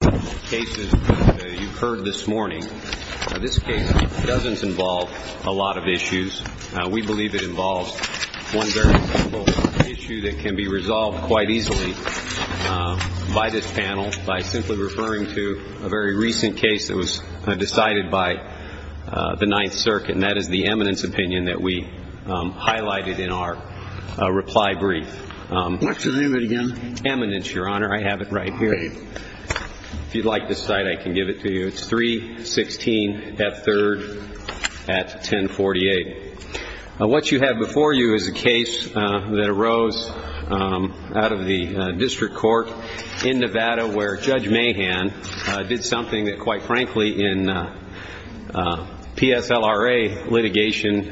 This case doesn't involve a lot of issues. We believe it involves one very simple issue that can be resolved quite easily by this panel by simply referring to a very recent case that was decided by the Ninth Circuit, and that is the eminence opinion that we highlighted in our reply brief. What's the name of it again? Eminence, Your Honor. I have it right here. If you'd like this site, I can give it to you. It's 316 F. 3rd at 1048. What you have before you is a case that arose out of the district court in Nevada where Judge Mahan did something that, quite frankly, in PSLRA litigation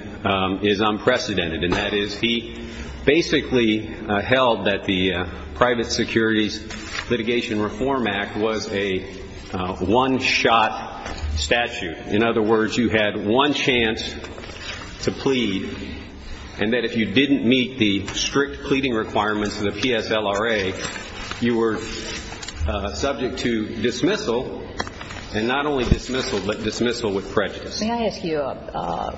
is unprecedented, and that is he basically held that the Private Securities Litigation Reform Act was a one-shot statute. In other words, you had one chance to plead, and that if you didn't meet the strict pleading requirements of the PSLRA, you were subject to dismissal, and not only dismissal, but dismissal with prejudice. May I ask you a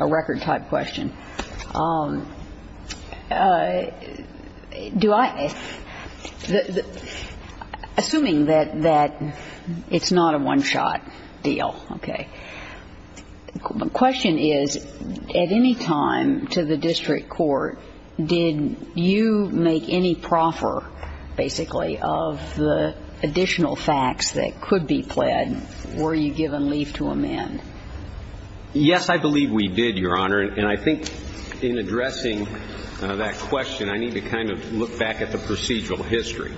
record-type question? Assuming that it's not a one-shot deal, okay, the question is, at any time to the district court, did you make any proffer, basically, of the additional facts that could be pled, or were you given leave to amend? Yes, I believe we did, Your Honor, and I think in addressing that question, I need to kind of look back at the procedural history.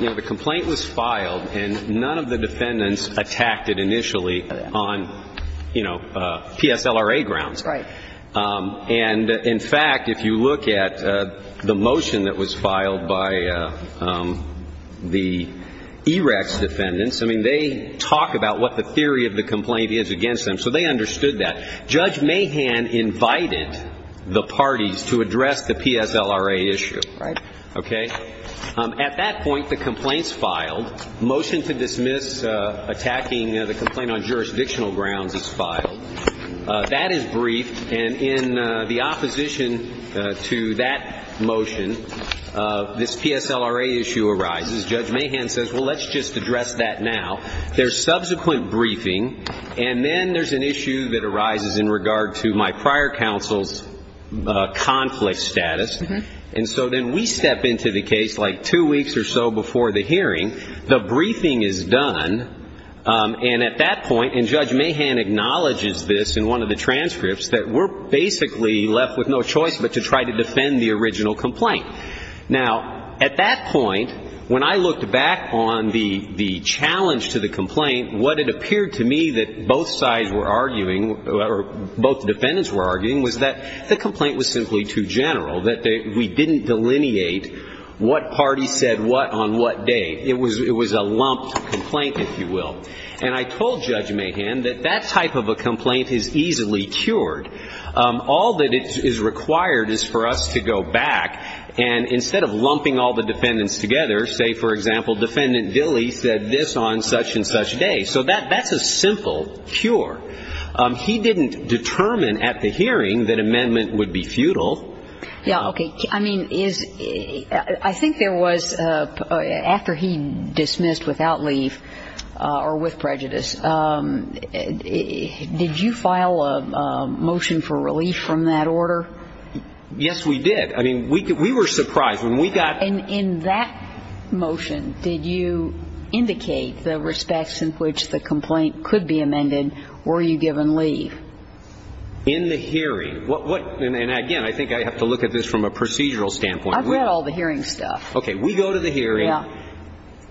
You know, the complaint was filed, and none of the defendants attacked it initially on, you know, PSLRA grounds. Right. And, in fact, if you look at the motion that was filed by the EREC's defendants, I mean, they talk about what the theory of the complaint is against them, so they understood that. Judge Mahan invited the parties to address the PSLRA issue. Right. Okay. At that point, the complaint's filed. Motion to dismiss attacking the complaint on jurisdictional grounds is filed. That is briefed, and in the opposition to that motion, this PSLRA issue arises. Judge Mahan says, well, let's just address that now. There's subsequent briefing, and then there's an issue that arises in regard to my prior counsel's conflict status, and so then we step into the case, like, two weeks or so before the hearing. The briefing is done, and at that point, and Judge Mahan acknowledges this in one of the transcripts, that we're basically left with no choice but to try to defend the original complaint. Now, at that point, when I looked back on the challenge to the complaint, what it appeared to me that both sides were arguing, or both defendants were arguing, was that the complaint was simply too general, that we didn't delineate what party said what on what day. It was a lumped complaint, if you will. And I told Judge Mahan that that type of a complaint is easily cured. All that is required is for us to go back and, instead of lumping all the defendants together, say, for example, Defendant Dilley said this on such-and-such day. So that's a simple cure. He didn't determine at the hearing that amendment would be futile. Yeah, okay. I mean, is – I think there was – after he dismissed without leave, or with prejudice, did you file a motion for relief from that order? Yes, we did. I mean, we were surprised when we got – And in that motion, did you indicate the respects in which the complaint could be amended? Were you given leave? In the hearing. What – and again, I think I have to look at this from a procedural standpoint. I've read all the hearing stuff. Okay. We go to the hearing. Yeah.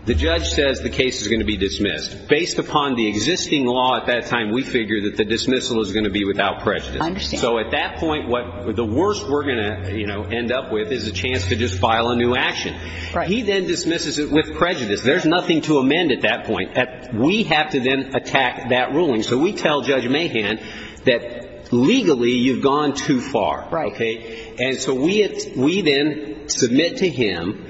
The judge says the case is going to be dismissed. Based upon the existing law at that time, we figure that the dismissal is going to be without prejudice. I understand. So at that point, what – the worst we're going to, you know, end up with is a chance to just file a new action. Right. But he then dismisses it with prejudice. There's nothing to amend at that point. We have to then attack that ruling. So we tell Judge Mahan that legally you've gone too far. Right. Okay. And so we then submit to him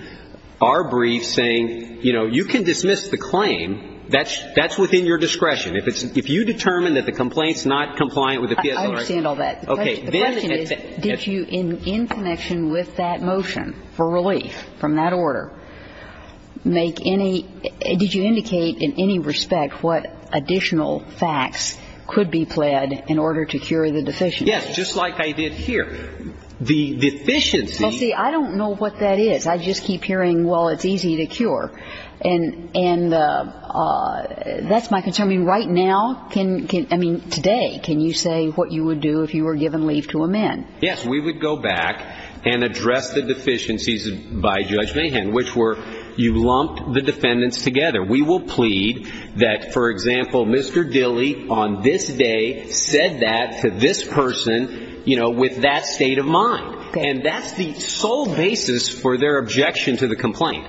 our brief saying, you know, you can dismiss the claim. That's within your discretion. If it's – if you determine that the complaint's not compliant with the PSLR – I understand all that. Okay. The question is, did you, in connection with that motion for relief from that order, make any – did you indicate in any respect what additional facts could be pled in order to cure the deficiency? Yes. Just like I did here. The deficiency – Well, see, I don't know what that is. I just keep hearing, well, it's easy to cure. And that's my concern. I mean, right now – I mean, today, can you say what you would do if you were given leave to amend? Yes. We would go back and address the deficiencies by Judge Mahan, which were you lumped the defendants together. We will plead that, for example, Mr. Dilley on this day said that to this person, you know, with that state of mind. Okay. And that's the sole basis for their objection to the complaint.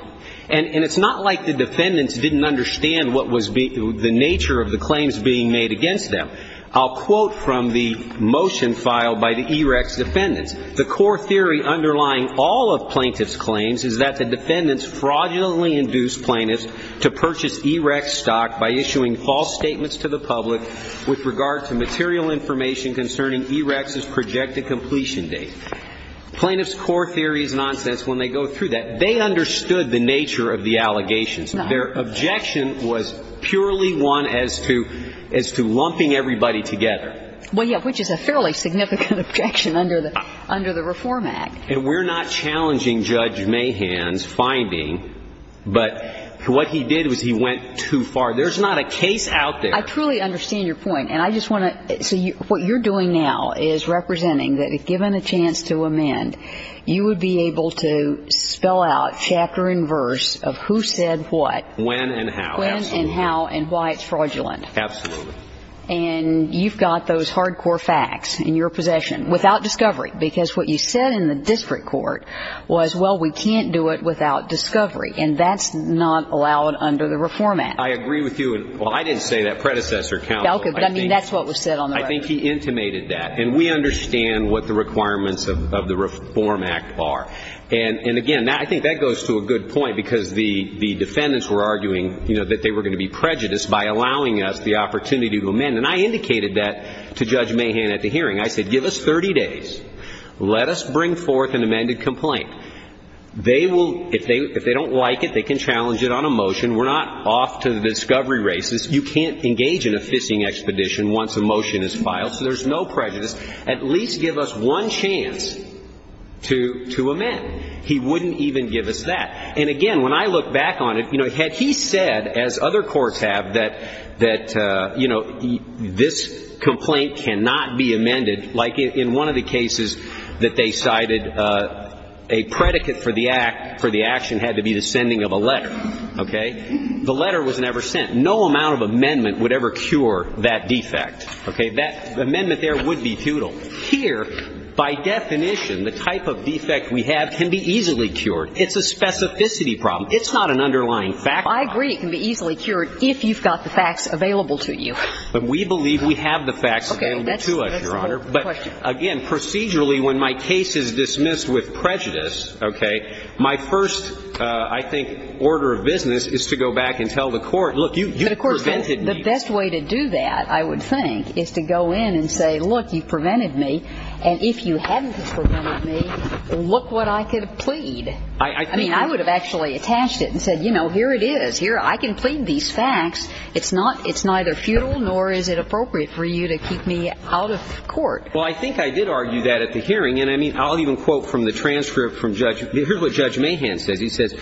And it's not like the defendants didn't understand what was – the nature of the claims being made against them. I'll quote from the motion filed by the EREC's defendants. The core theory underlying all of plaintiff's claims is that the defendants fraudulently induced plaintiffs to purchase EREC stock by issuing false statements to the public with regard to material information concerning EREC's projected completion date. Plaintiff's core theory is nonsense when they go through that. They understood the nature of the allegations. Their objection was purely one as to lumping everybody together. Well, yeah, which is a fairly significant objection under the Reform Act. And we're not challenging Judge Mahan's finding, but what he did was he went too far. There's not a case out there. I truly understand your point, and I just want to – so what you're doing now is representing that if given a chance to amend, you would be able to spell out chapter and verse of who said what. When and how. When and how and why it's fraudulent. Absolutely. And you've got those hardcore facts in your possession without discovery because what you said in the district court was, well, we can't do it without discovery, and that's not allowed under the Reform Act. I agree with you. Well, I didn't say that, predecessor counsel. But, I mean, that's what was said on the record. I think he intimated that. And we understand what the requirements of the Reform Act are. And, again, I think that goes to a good point because the defendants were arguing, you know, that they were going to be prejudiced by allowing us the opportunity to amend. And I indicated that to Judge Mahan at the hearing. I said, give us 30 days. Let us bring forth an amended complaint. They will – if they don't like it, they can challenge it on a motion. We're not off to the discovery races. You can't engage in a fishing expedition once a motion is filed, so there's no prejudice. At least give us one chance to amend. He wouldn't even give us that. And, again, when I look back on it, you know, had he said, as other courts have, that, you know, this complaint cannot be amended like in one of the cases that they cited, a predicate for the act – for the action had to be the sending of a letter. Okay? The letter was never sent. No amount of amendment would ever cure that defect. Okay? That amendment there would be tootled. Here, by definition, the type of defect we have can be easily cured. It's a specificity problem. It's not an underlying fact problem. I agree it can be easily cured if you've got the facts available to you. But we believe we have the facts available to us, Your Honor. But, again, procedurally, when my case is dismissed with prejudice, okay, my first, I think, order of business is to go back and tell the court, look, you prevented me. The best way to do that, I would think, is to go in and say, look, you prevented me, and if you hadn't prevented me, look what I could have plead. I mean, I would have actually attached it and said, you know, here it is. Here, I can plead these facts. It's not, it's neither futile nor is it appropriate for you to keep me out of court. Well, I think I did argue that at the hearing. And, I mean, I'll even quote from the transcript from Judge, here's what Judge Mahan says. He says,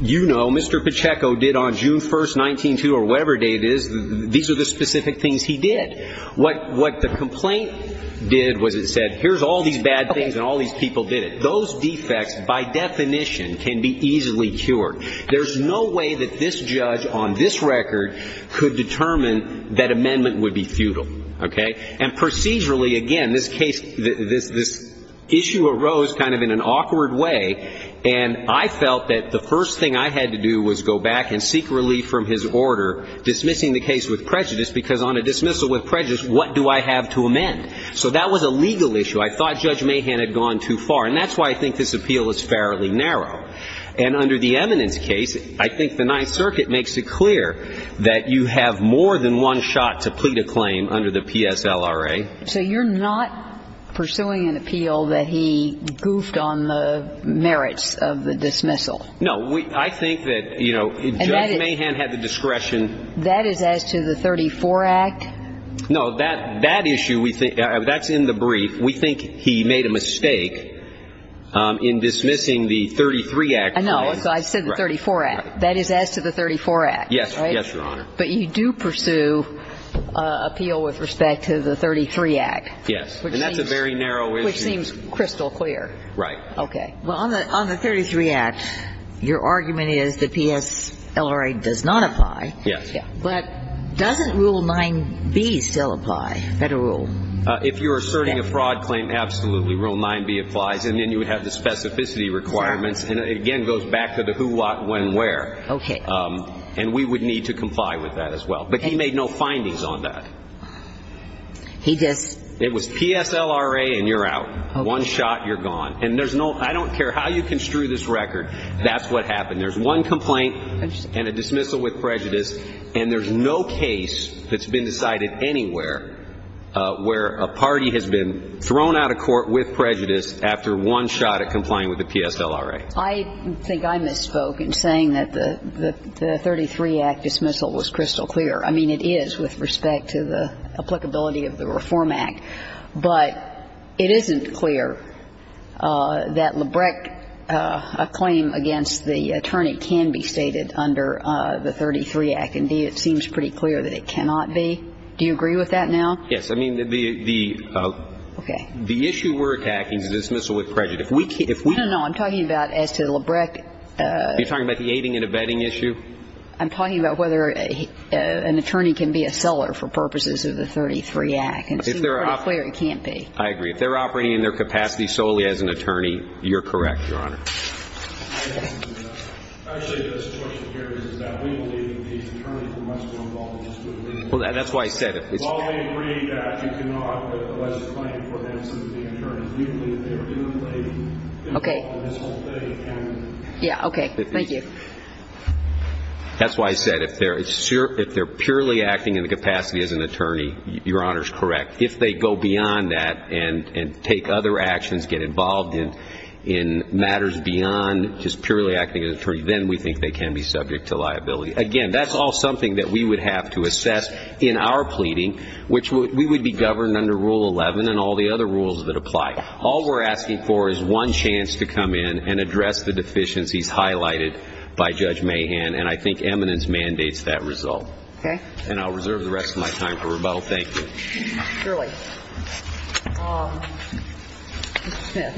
you know, Mr. Pacheco did on June 1st, 1902 or whatever day it is, these are the specific things he did. What the complaint did was it said, here's all these bad things and all these people did it. Those defects, by definition, can be easily cured. There's no way that this judge on this record could determine that amendment would be futile. Okay? And procedurally, again, this case, this issue arose kind of in an awkward way, and I felt that the first thing I had to do was go back and seek relief from his order, dismissing the case with prejudice, because on a dismissal with prejudice, what do I have to amend? So that was a legal issue. I thought Judge Mahan had gone too far. And that's why I think this appeal is fairly narrow. And under the eminence case, I think the Ninth Circuit makes it clear that you have more than one shot to plead a claim under the PSLRA. So you're not pursuing an appeal that he goofed on the merits of the dismissal? No. I think that, you know, Judge Mahan had the discretion. That is as to the 34 Act? No. That issue, that's in the brief. We think he made a mistake in dismissing the 33 Act. No. I said the 34 Act. That is as to the 34 Act. Yes. Yes, Your Honor. But you do pursue appeal with respect to the 33 Act. Yes. And that's a very narrow issue. Which seems crystal clear. Right. Okay. Well, on the 33 Act, your argument is the PSLRA does not apply. Yes. But doesn't Rule 9b still apply? Federal? If you're asserting a fraud claim, absolutely. Rule 9b applies. And then you would have the specificity requirements. Sure. And, again, it goes back to the who, what, when, where. Okay. And we would need to comply with that as well. But he made no findings on that. He just ---- It was PSLRA and you're out. Okay. One shot, you're gone. And there's no ---- I don't care how you construe this record, that's what happened. There's one complaint. Interesting. And a dismissal with prejudice. And there's no case that's been decided anywhere where a party has been thrown out of court with prejudice after one shot at complying with the PSLRA. I think I misspoke in saying that the 33 Act dismissal was crystal clear. I mean, it is with respect to the applicability of the Reform Act. But it isn't clear that Lebrecht, a claim against the attorney, can be stated under the 33 Act. Indeed, it seems pretty clear that it cannot be. Do you agree with that now? Yes. I mean, the ---- Okay. The issue we're attacking is a dismissal with prejudice. If we can ---- No, no. I'm talking about as to Lebrecht. Are you talking about the aiding and abetting issue? I'm talking about whether an attorney can be a seller for purposes of the 33 Act. And it seems pretty clear it can't be. I agree. If they're operating in their capacity solely as an attorney, you're correct, Your Honor. Actually, the situation here is that we believe these attorneys are much more involved in the dispute. Well, that's why I said if it's ---- Well, we agree that you cannot put a lesser claim for them simply being attorneys. We believe that they are doing what they ---- Okay. Yeah, okay. Thank you. That's why I said if they're purely acting in the capacity as an attorney, Your Honor is correct. If they go beyond that and take other actions, get involved in matters beyond just purely acting as an attorney, then we think they can be subject to liability. Again, that's all something that we would have to assess in our pleading, which we would be governed under Rule 11 and all the other rules that apply. All we're asking for is one chance to come in and address the deficiencies highlighted by Judge Mahan, and I think eminence mandates that result. Okay. And I'll reserve the rest of my time for rebuttal. Thank you. Surely. Mr. Smith.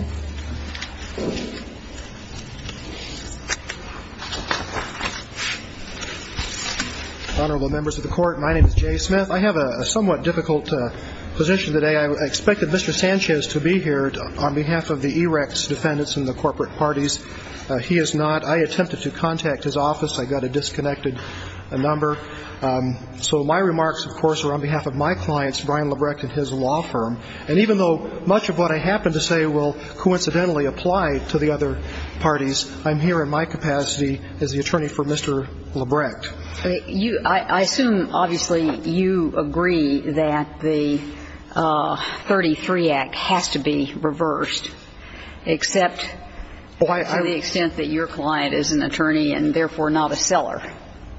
Honorable members of the Court, my name is Jay Smith. I have a somewhat difficult position today. I expected Mr. Sanchez to be here on behalf of the EREC's defendants and the corporate parties. He is not. I attempted to contact his office. I got a disconnected number. So my remarks, of course, are on behalf of my clients, Brian Lebrecht and his law firm. And even though much of what I happen to say will coincidentally apply to the other parties, I'm here in my capacity as the attorney for Mr. Lebrecht. I assume, obviously, you agree that the 33 Act has to be reversed, except to the extent that your client is an attorney and therefore not a seller.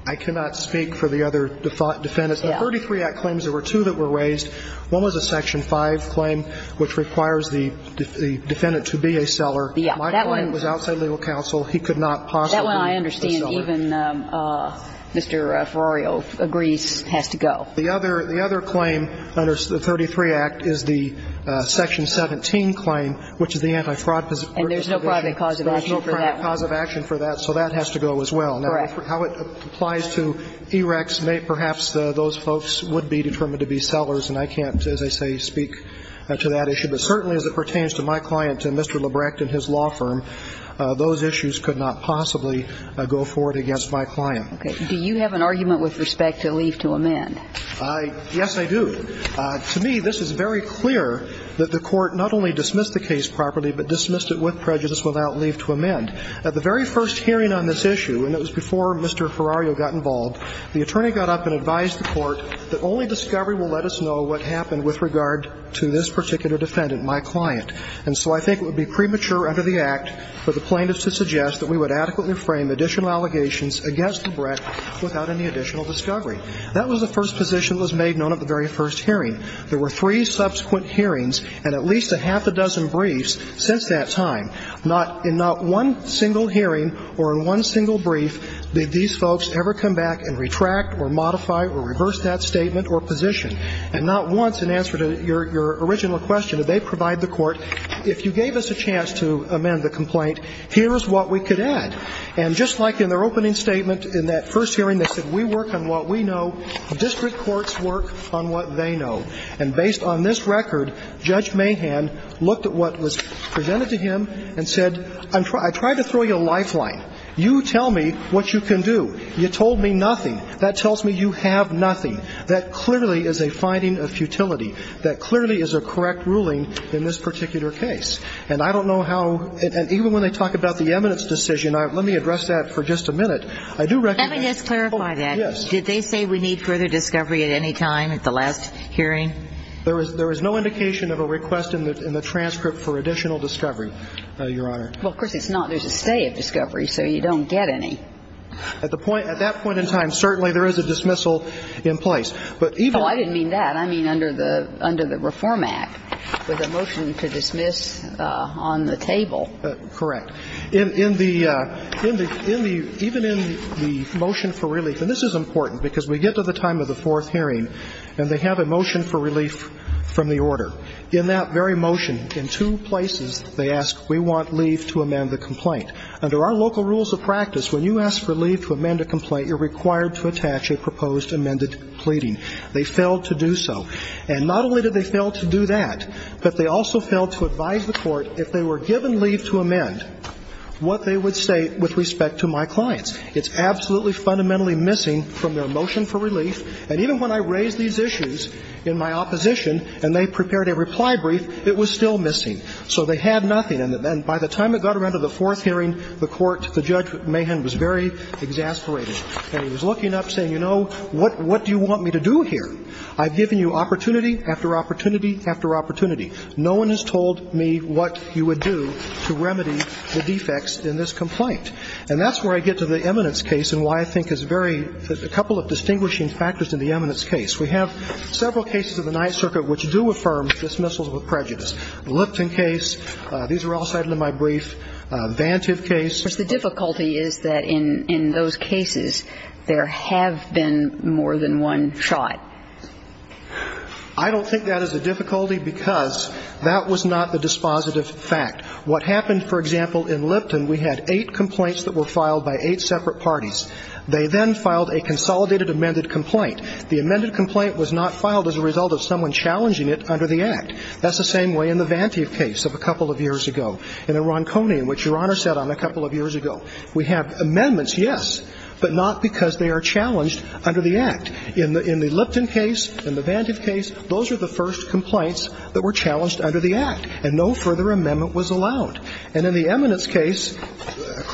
I cannot speak for the other defendants. The 33 Act claims there were two that were raised. One was a Section 5 claim which requires the defendant to be a seller. My client was outside legal counsel. He could not possibly be a seller. That one I understand even Mr. Ferroio agrees has to go. The other claim under the 33 Act is the Section 17 claim, which is the anti-fraud position. And there's no private cause of action for that one. There's no private cause of action for that, so that has to go as well. Correct. Now, how it applies to EREC's may perhaps those folks would be determined to be sellers, and I can't, as I say, speak to that issue. But certainly as it pertains to my client and Mr. Lebrecht and his law firm, those issues could not possibly go forward against my client. Okay. Do you have an argument with respect to leave to amend? Yes, I do. To me, this is very clear that the Court not only dismissed the case properly but dismissed it with prejudice without leave to amend. At the very first hearing on this issue, and it was before Mr. Ferroio got involved, the attorney got up and advised the Court that only discovery will let us know what happened with regard to this particular defendant, my client. And so I think it would be premature under the Act for the plaintiffs to suggest that we would adequately frame additional allegations against Lebrecht without any additional discovery. That was the first position that was made known at the very first hearing. There were three subsequent hearings and at least a half a dozen briefs since that time. Not in not one single hearing or in one single brief did these folks ever come back and retract or modify or reverse that statement or position. And not once, in answer to your original question, did they provide the Court, if you gave us a chance to amend the complaint, here is what we could add. And just like in their opening statement in that first hearing, they said, we work on what we know, district courts work on what they know. And based on this record, Judge Mahan looked at what was presented to him and said, I'm trying to throw you a lifeline. You tell me what you can do. You told me nothing. That tells me you have nothing. That clearly is a finding of futility. That clearly is a correct ruling in this particular case. And I don't know how – and even when they talk about the eminence decision, let me address that for just a minute. I do recognize – Let me just clarify that. Yes. Did they say we need further discovery at any time at the last hearing? There was no indication of a request in the transcript for additional discovery, Your Honor. Well, of course it's not. There's a stay of discovery, so you don't get any. At that point in time, certainly there is a dismissal in place. Oh, I didn't mean that. I mean under the Reform Act with a motion to dismiss on the table. Correct. Even in the motion for relief – and this is important because we get to the time of the fourth hearing and they have a motion for relief from the order. In that very motion, in two places they ask, we want leave to amend the complaint. Under our local rules of practice, when you ask for leave to amend a complaint, you're required to attach a proposed amended pleading. They failed to do so. And not only did they fail to do that, but they also failed to advise the court, if they were given leave to amend, what they would say with respect to my clients. It's absolutely fundamentally missing from their motion for relief. And even when I raised these issues in my opposition and they prepared a reply brief, it was still missing. So they had nothing. And by the time it got around to the fourth hearing, the court, the Judge Mahan, was very exasperated. And he was looking up saying, you know, what do you want me to do here? I've given you opportunity after opportunity after opportunity. No one has told me what you would do to remedy the defects in this complaint. And that's where I get to the eminence case and why I think it's very – a couple of distinguishing factors in the eminence case. We have several cases of the Ninth Circuit which do affirm dismissals with prejudice. The Lipton case. These were all cited in my brief. Vantive case. But the difficulty is that in those cases, there have been more than one shot. I don't think that is a difficulty because that was not the dispositive fact. What happened, for example, in Lipton, we had eight complaints that were filed by eight separate parties. They then filed a consolidated amended complaint. The amended complaint was not filed as a result of someone challenging it under the Act. That's the same way in the Vantive case of a couple of years ago. In the Ronconi, which Your Honor sat on a couple of years ago, we have amendments, yes, but not because they are challenged under the Act. In the Lipton case, in the Vantive case, those are the first complaints that were challenged under the Act, and no further amendment was allowed. And in the eminence case,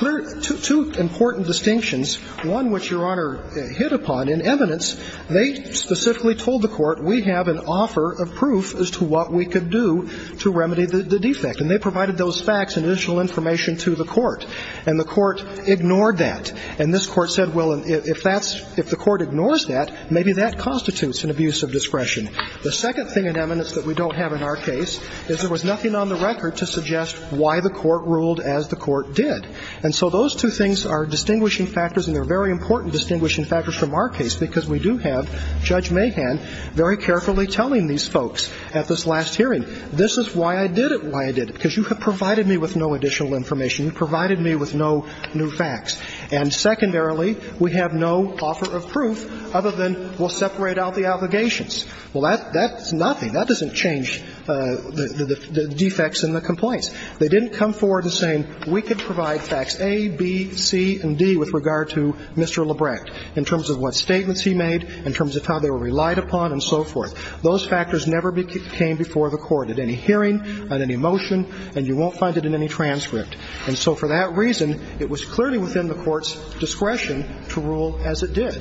two important distinctions, one which Your Honor hit upon in eminence, they specifically told the Court, we have an offer of proof as to what we could do to remedy the defect. And they provided those facts and additional information to the Court. And the Court ignored that. And this Court said, well, if that's – if the Court ignores that, maybe that constitutes an abuse of discretion. The second thing in eminence that we don't have in our case is there was nothing on the record to suggest why the Court ruled as the Court did. And so those two things are distinguishing factors, and they're very important distinguishing factors from our case because we do have Judge Mahan very carefully telling these folks at this last hearing, this is why I did it, why I did it. Because you have provided me with no additional information. You provided me with no new facts. And secondarily, we have no offer of proof other than we'll separate out the allegations. Well, that's nothing. That doesn't change the defects in the complaints. They didn't come forward as saying we could provide facts A, B, C, and D with regard to Mr. LeBrecht in terms of what statements he made, in terms of how they were relied upon and so forth. Those factors never came before the Court at any hearing, on any motion, and you won't find it in any transcript. And so for that reason, it was clearly within the Court's discretion to rule as it did.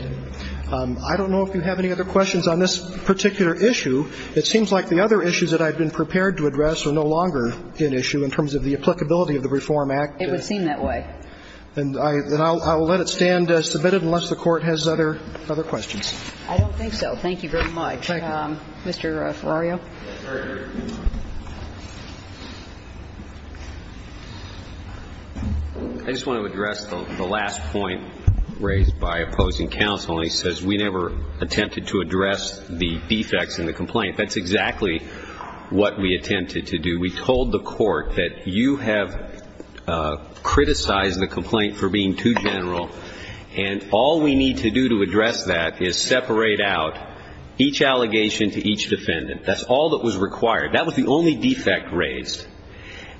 I don't know if you have any other questions on this particular issue. It seems like the other issues that I've been prepared to address are no longer an issue in terms of the applicability of the Reform Act. It would seem that way. And I'll let it stand as submitted unless the Court has other questions. I don't think so. Thank you very much. Mr. Ferrario. I just want to address the last point raised by opposing counsel. And he says we never attempted to address the defects in the complaint. That's exactly what we attempted to do. We told the Court that you have criticized the complaint for being too general, and all we need to do to address that is separate out each allegation to each defendant. That's all that was required. That was the only defect raised.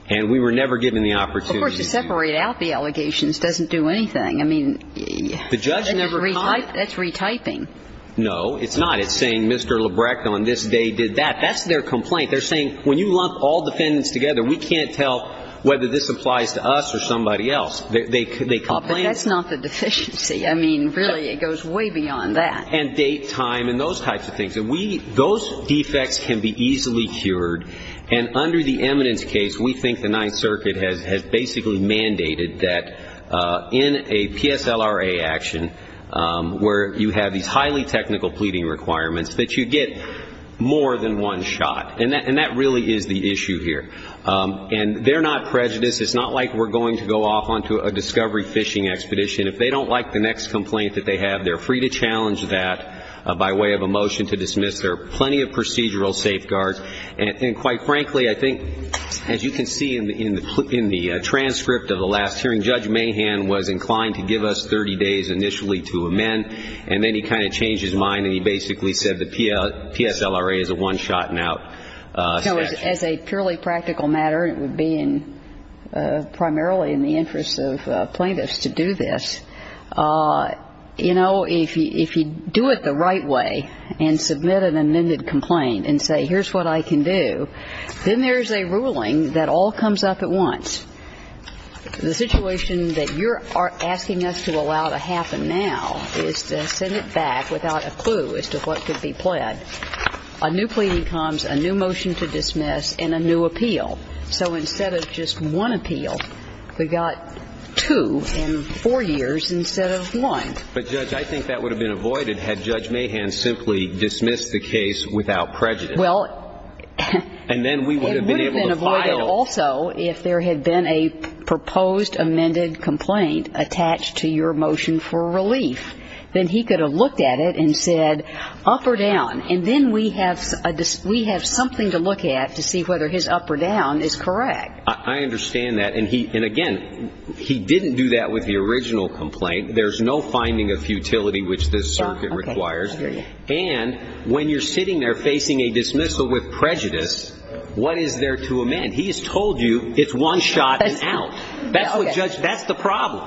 And we were never given the opportunity to do that. Of course, to separate out the allegations doesn't do anything. I mean, that's retyping. No, it's not. It's saying Mr. Lebrecht on this day did that. That's their complaint. They're saying when you lump all defendants together, we can't tell whether this applies to us or somebody else. They complain. That's not the deficiency. I mean, really, it goes way beyond that. And date, time, and those types of things. Those defects can be easily cured. And under the eminence case, we think the Ninth Circuit has basically mandated that in a PSLRA action where you have these highly technical pleading requirements that you get more than one shot. And that really is the issue here. And they're not prejudiced. It's not like we're going to go off onto a discovery fishing expedition. If they don't like the next complaint that they have, they're free to challenge that by way of a motion to dismiss. There are plenty of procedural safeguards. And quite frankly, I think, as you can see in the transcript of the last hearing, Judge Mahan was inclined to give us 30 days initially to amend, and then he kind of changed his mind and he basically said the PSLRA is a one-shot-and-out statute. As a purely practical matter, and it would be primarily in the interest of plaintiffs to do this, you know, if you do it the right way and submit an amended complaint and say here's what I can do, then there's a ruling that all comes up at once. The situation that you're asking us to allow to happen now is to send it back without a clue as to what could be pled. A new pleading comes, a new motion to dismiss, and a new appeal. So instead of just one appeal, we got two in four years instead of one. But Judge, I think that would have been avoided had Judge Mahan simply dismissed the case without prejudice. Well, it would have been avoided also if there had been a proposed amended complaint attached to your motion for relief. Then he could have looked at it and said, up or down, and then we have something to look at to see whether his up or down is correct. I understand that. And again, he didn't do that with the original complaint. There's no finding of futility which this circuit requires. And when you're sitting there facing a dismissal with prejudice, what is there to amend? He's told you it's one-shot-and-out. That's the problem.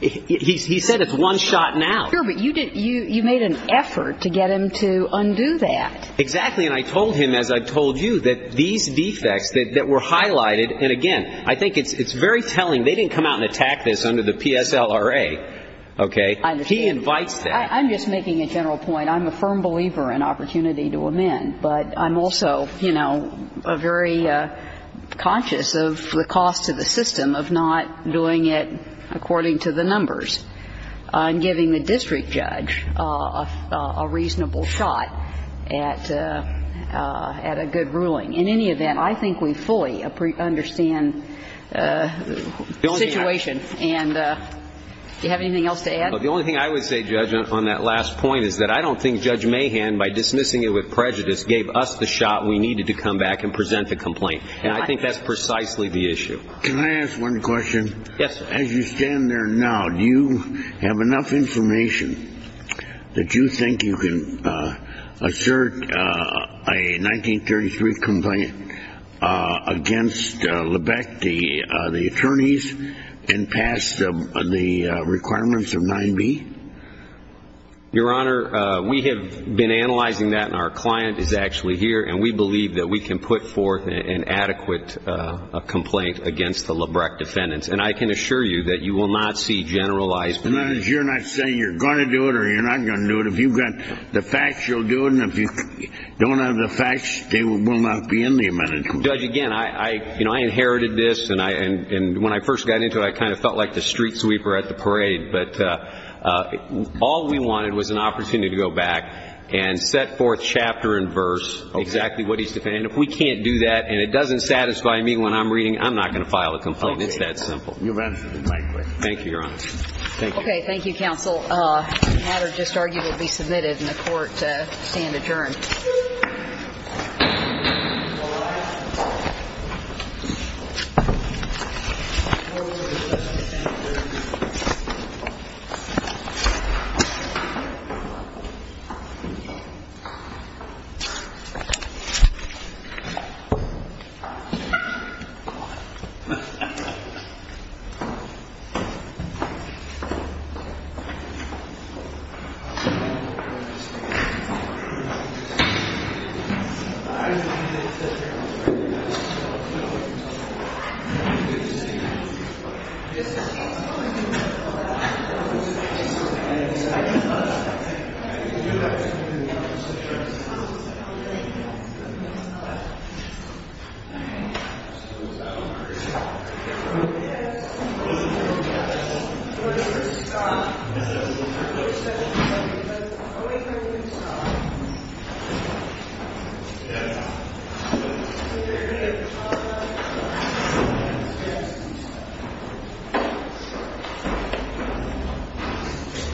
He said it's one-shot-and-out. Sure, but you made an effort to get him to undo that. Exactly, and I told him, as I've told you, that these defects that were highlighted, and again, I think it's very telling they didn't come out and attack this under the PSLRA. Okay? He invites that. I'm just making a general point. I'm a firm believer in opportunity to amend, but I'm also, you know, very conscious of the cost to the system of not doing it according to the numbers. I'm giving the district judge a reasonable shot at a good ruling. In any event, I think we fully understand the situation. And do you have anything else to add? The only thing I would say, Judge, on that last point, is that I don't think Judge Mahan, by dismissing it with prejudice, gave us the shot we needed to come back and present the complaint. And I think that's precisely the issue. Can I ask one question? Yes, sir. As you stand there now, do you have enough information that you think you can assert a 1933 complaint against Lebrecht, the attorneys, and pass the requirements of 9B? Your Honor, we have been analyzing that, and our client is actually here, and we believe that we can put forth an adequate complaint against the Lebrecht defendants. And I can assure you that you will not see generalized complaints. You're not saying you're going to do it or you're not going to do it. If you've got the facts, you'll do it. And if you don't have the facts, they will not be in the amendment. Judge, again, I inherited this, and when I first got into it, I kind of felt like the street sweeper at the parade. But all we wanted was an opportunity to go back and set forth chapter and verse exactly what he's defending. And if we can't do that and it doesn't satisfy me when I'm reading, I'm not going to file a complaint. It's that simple. You've answered my question. Thank you, Your Honor. Thank you. Okay. Thank you, counsel. The matter just argued will be submitted, and the court to stand adjourned. Thank you. Thank you. Thank you. Thank you.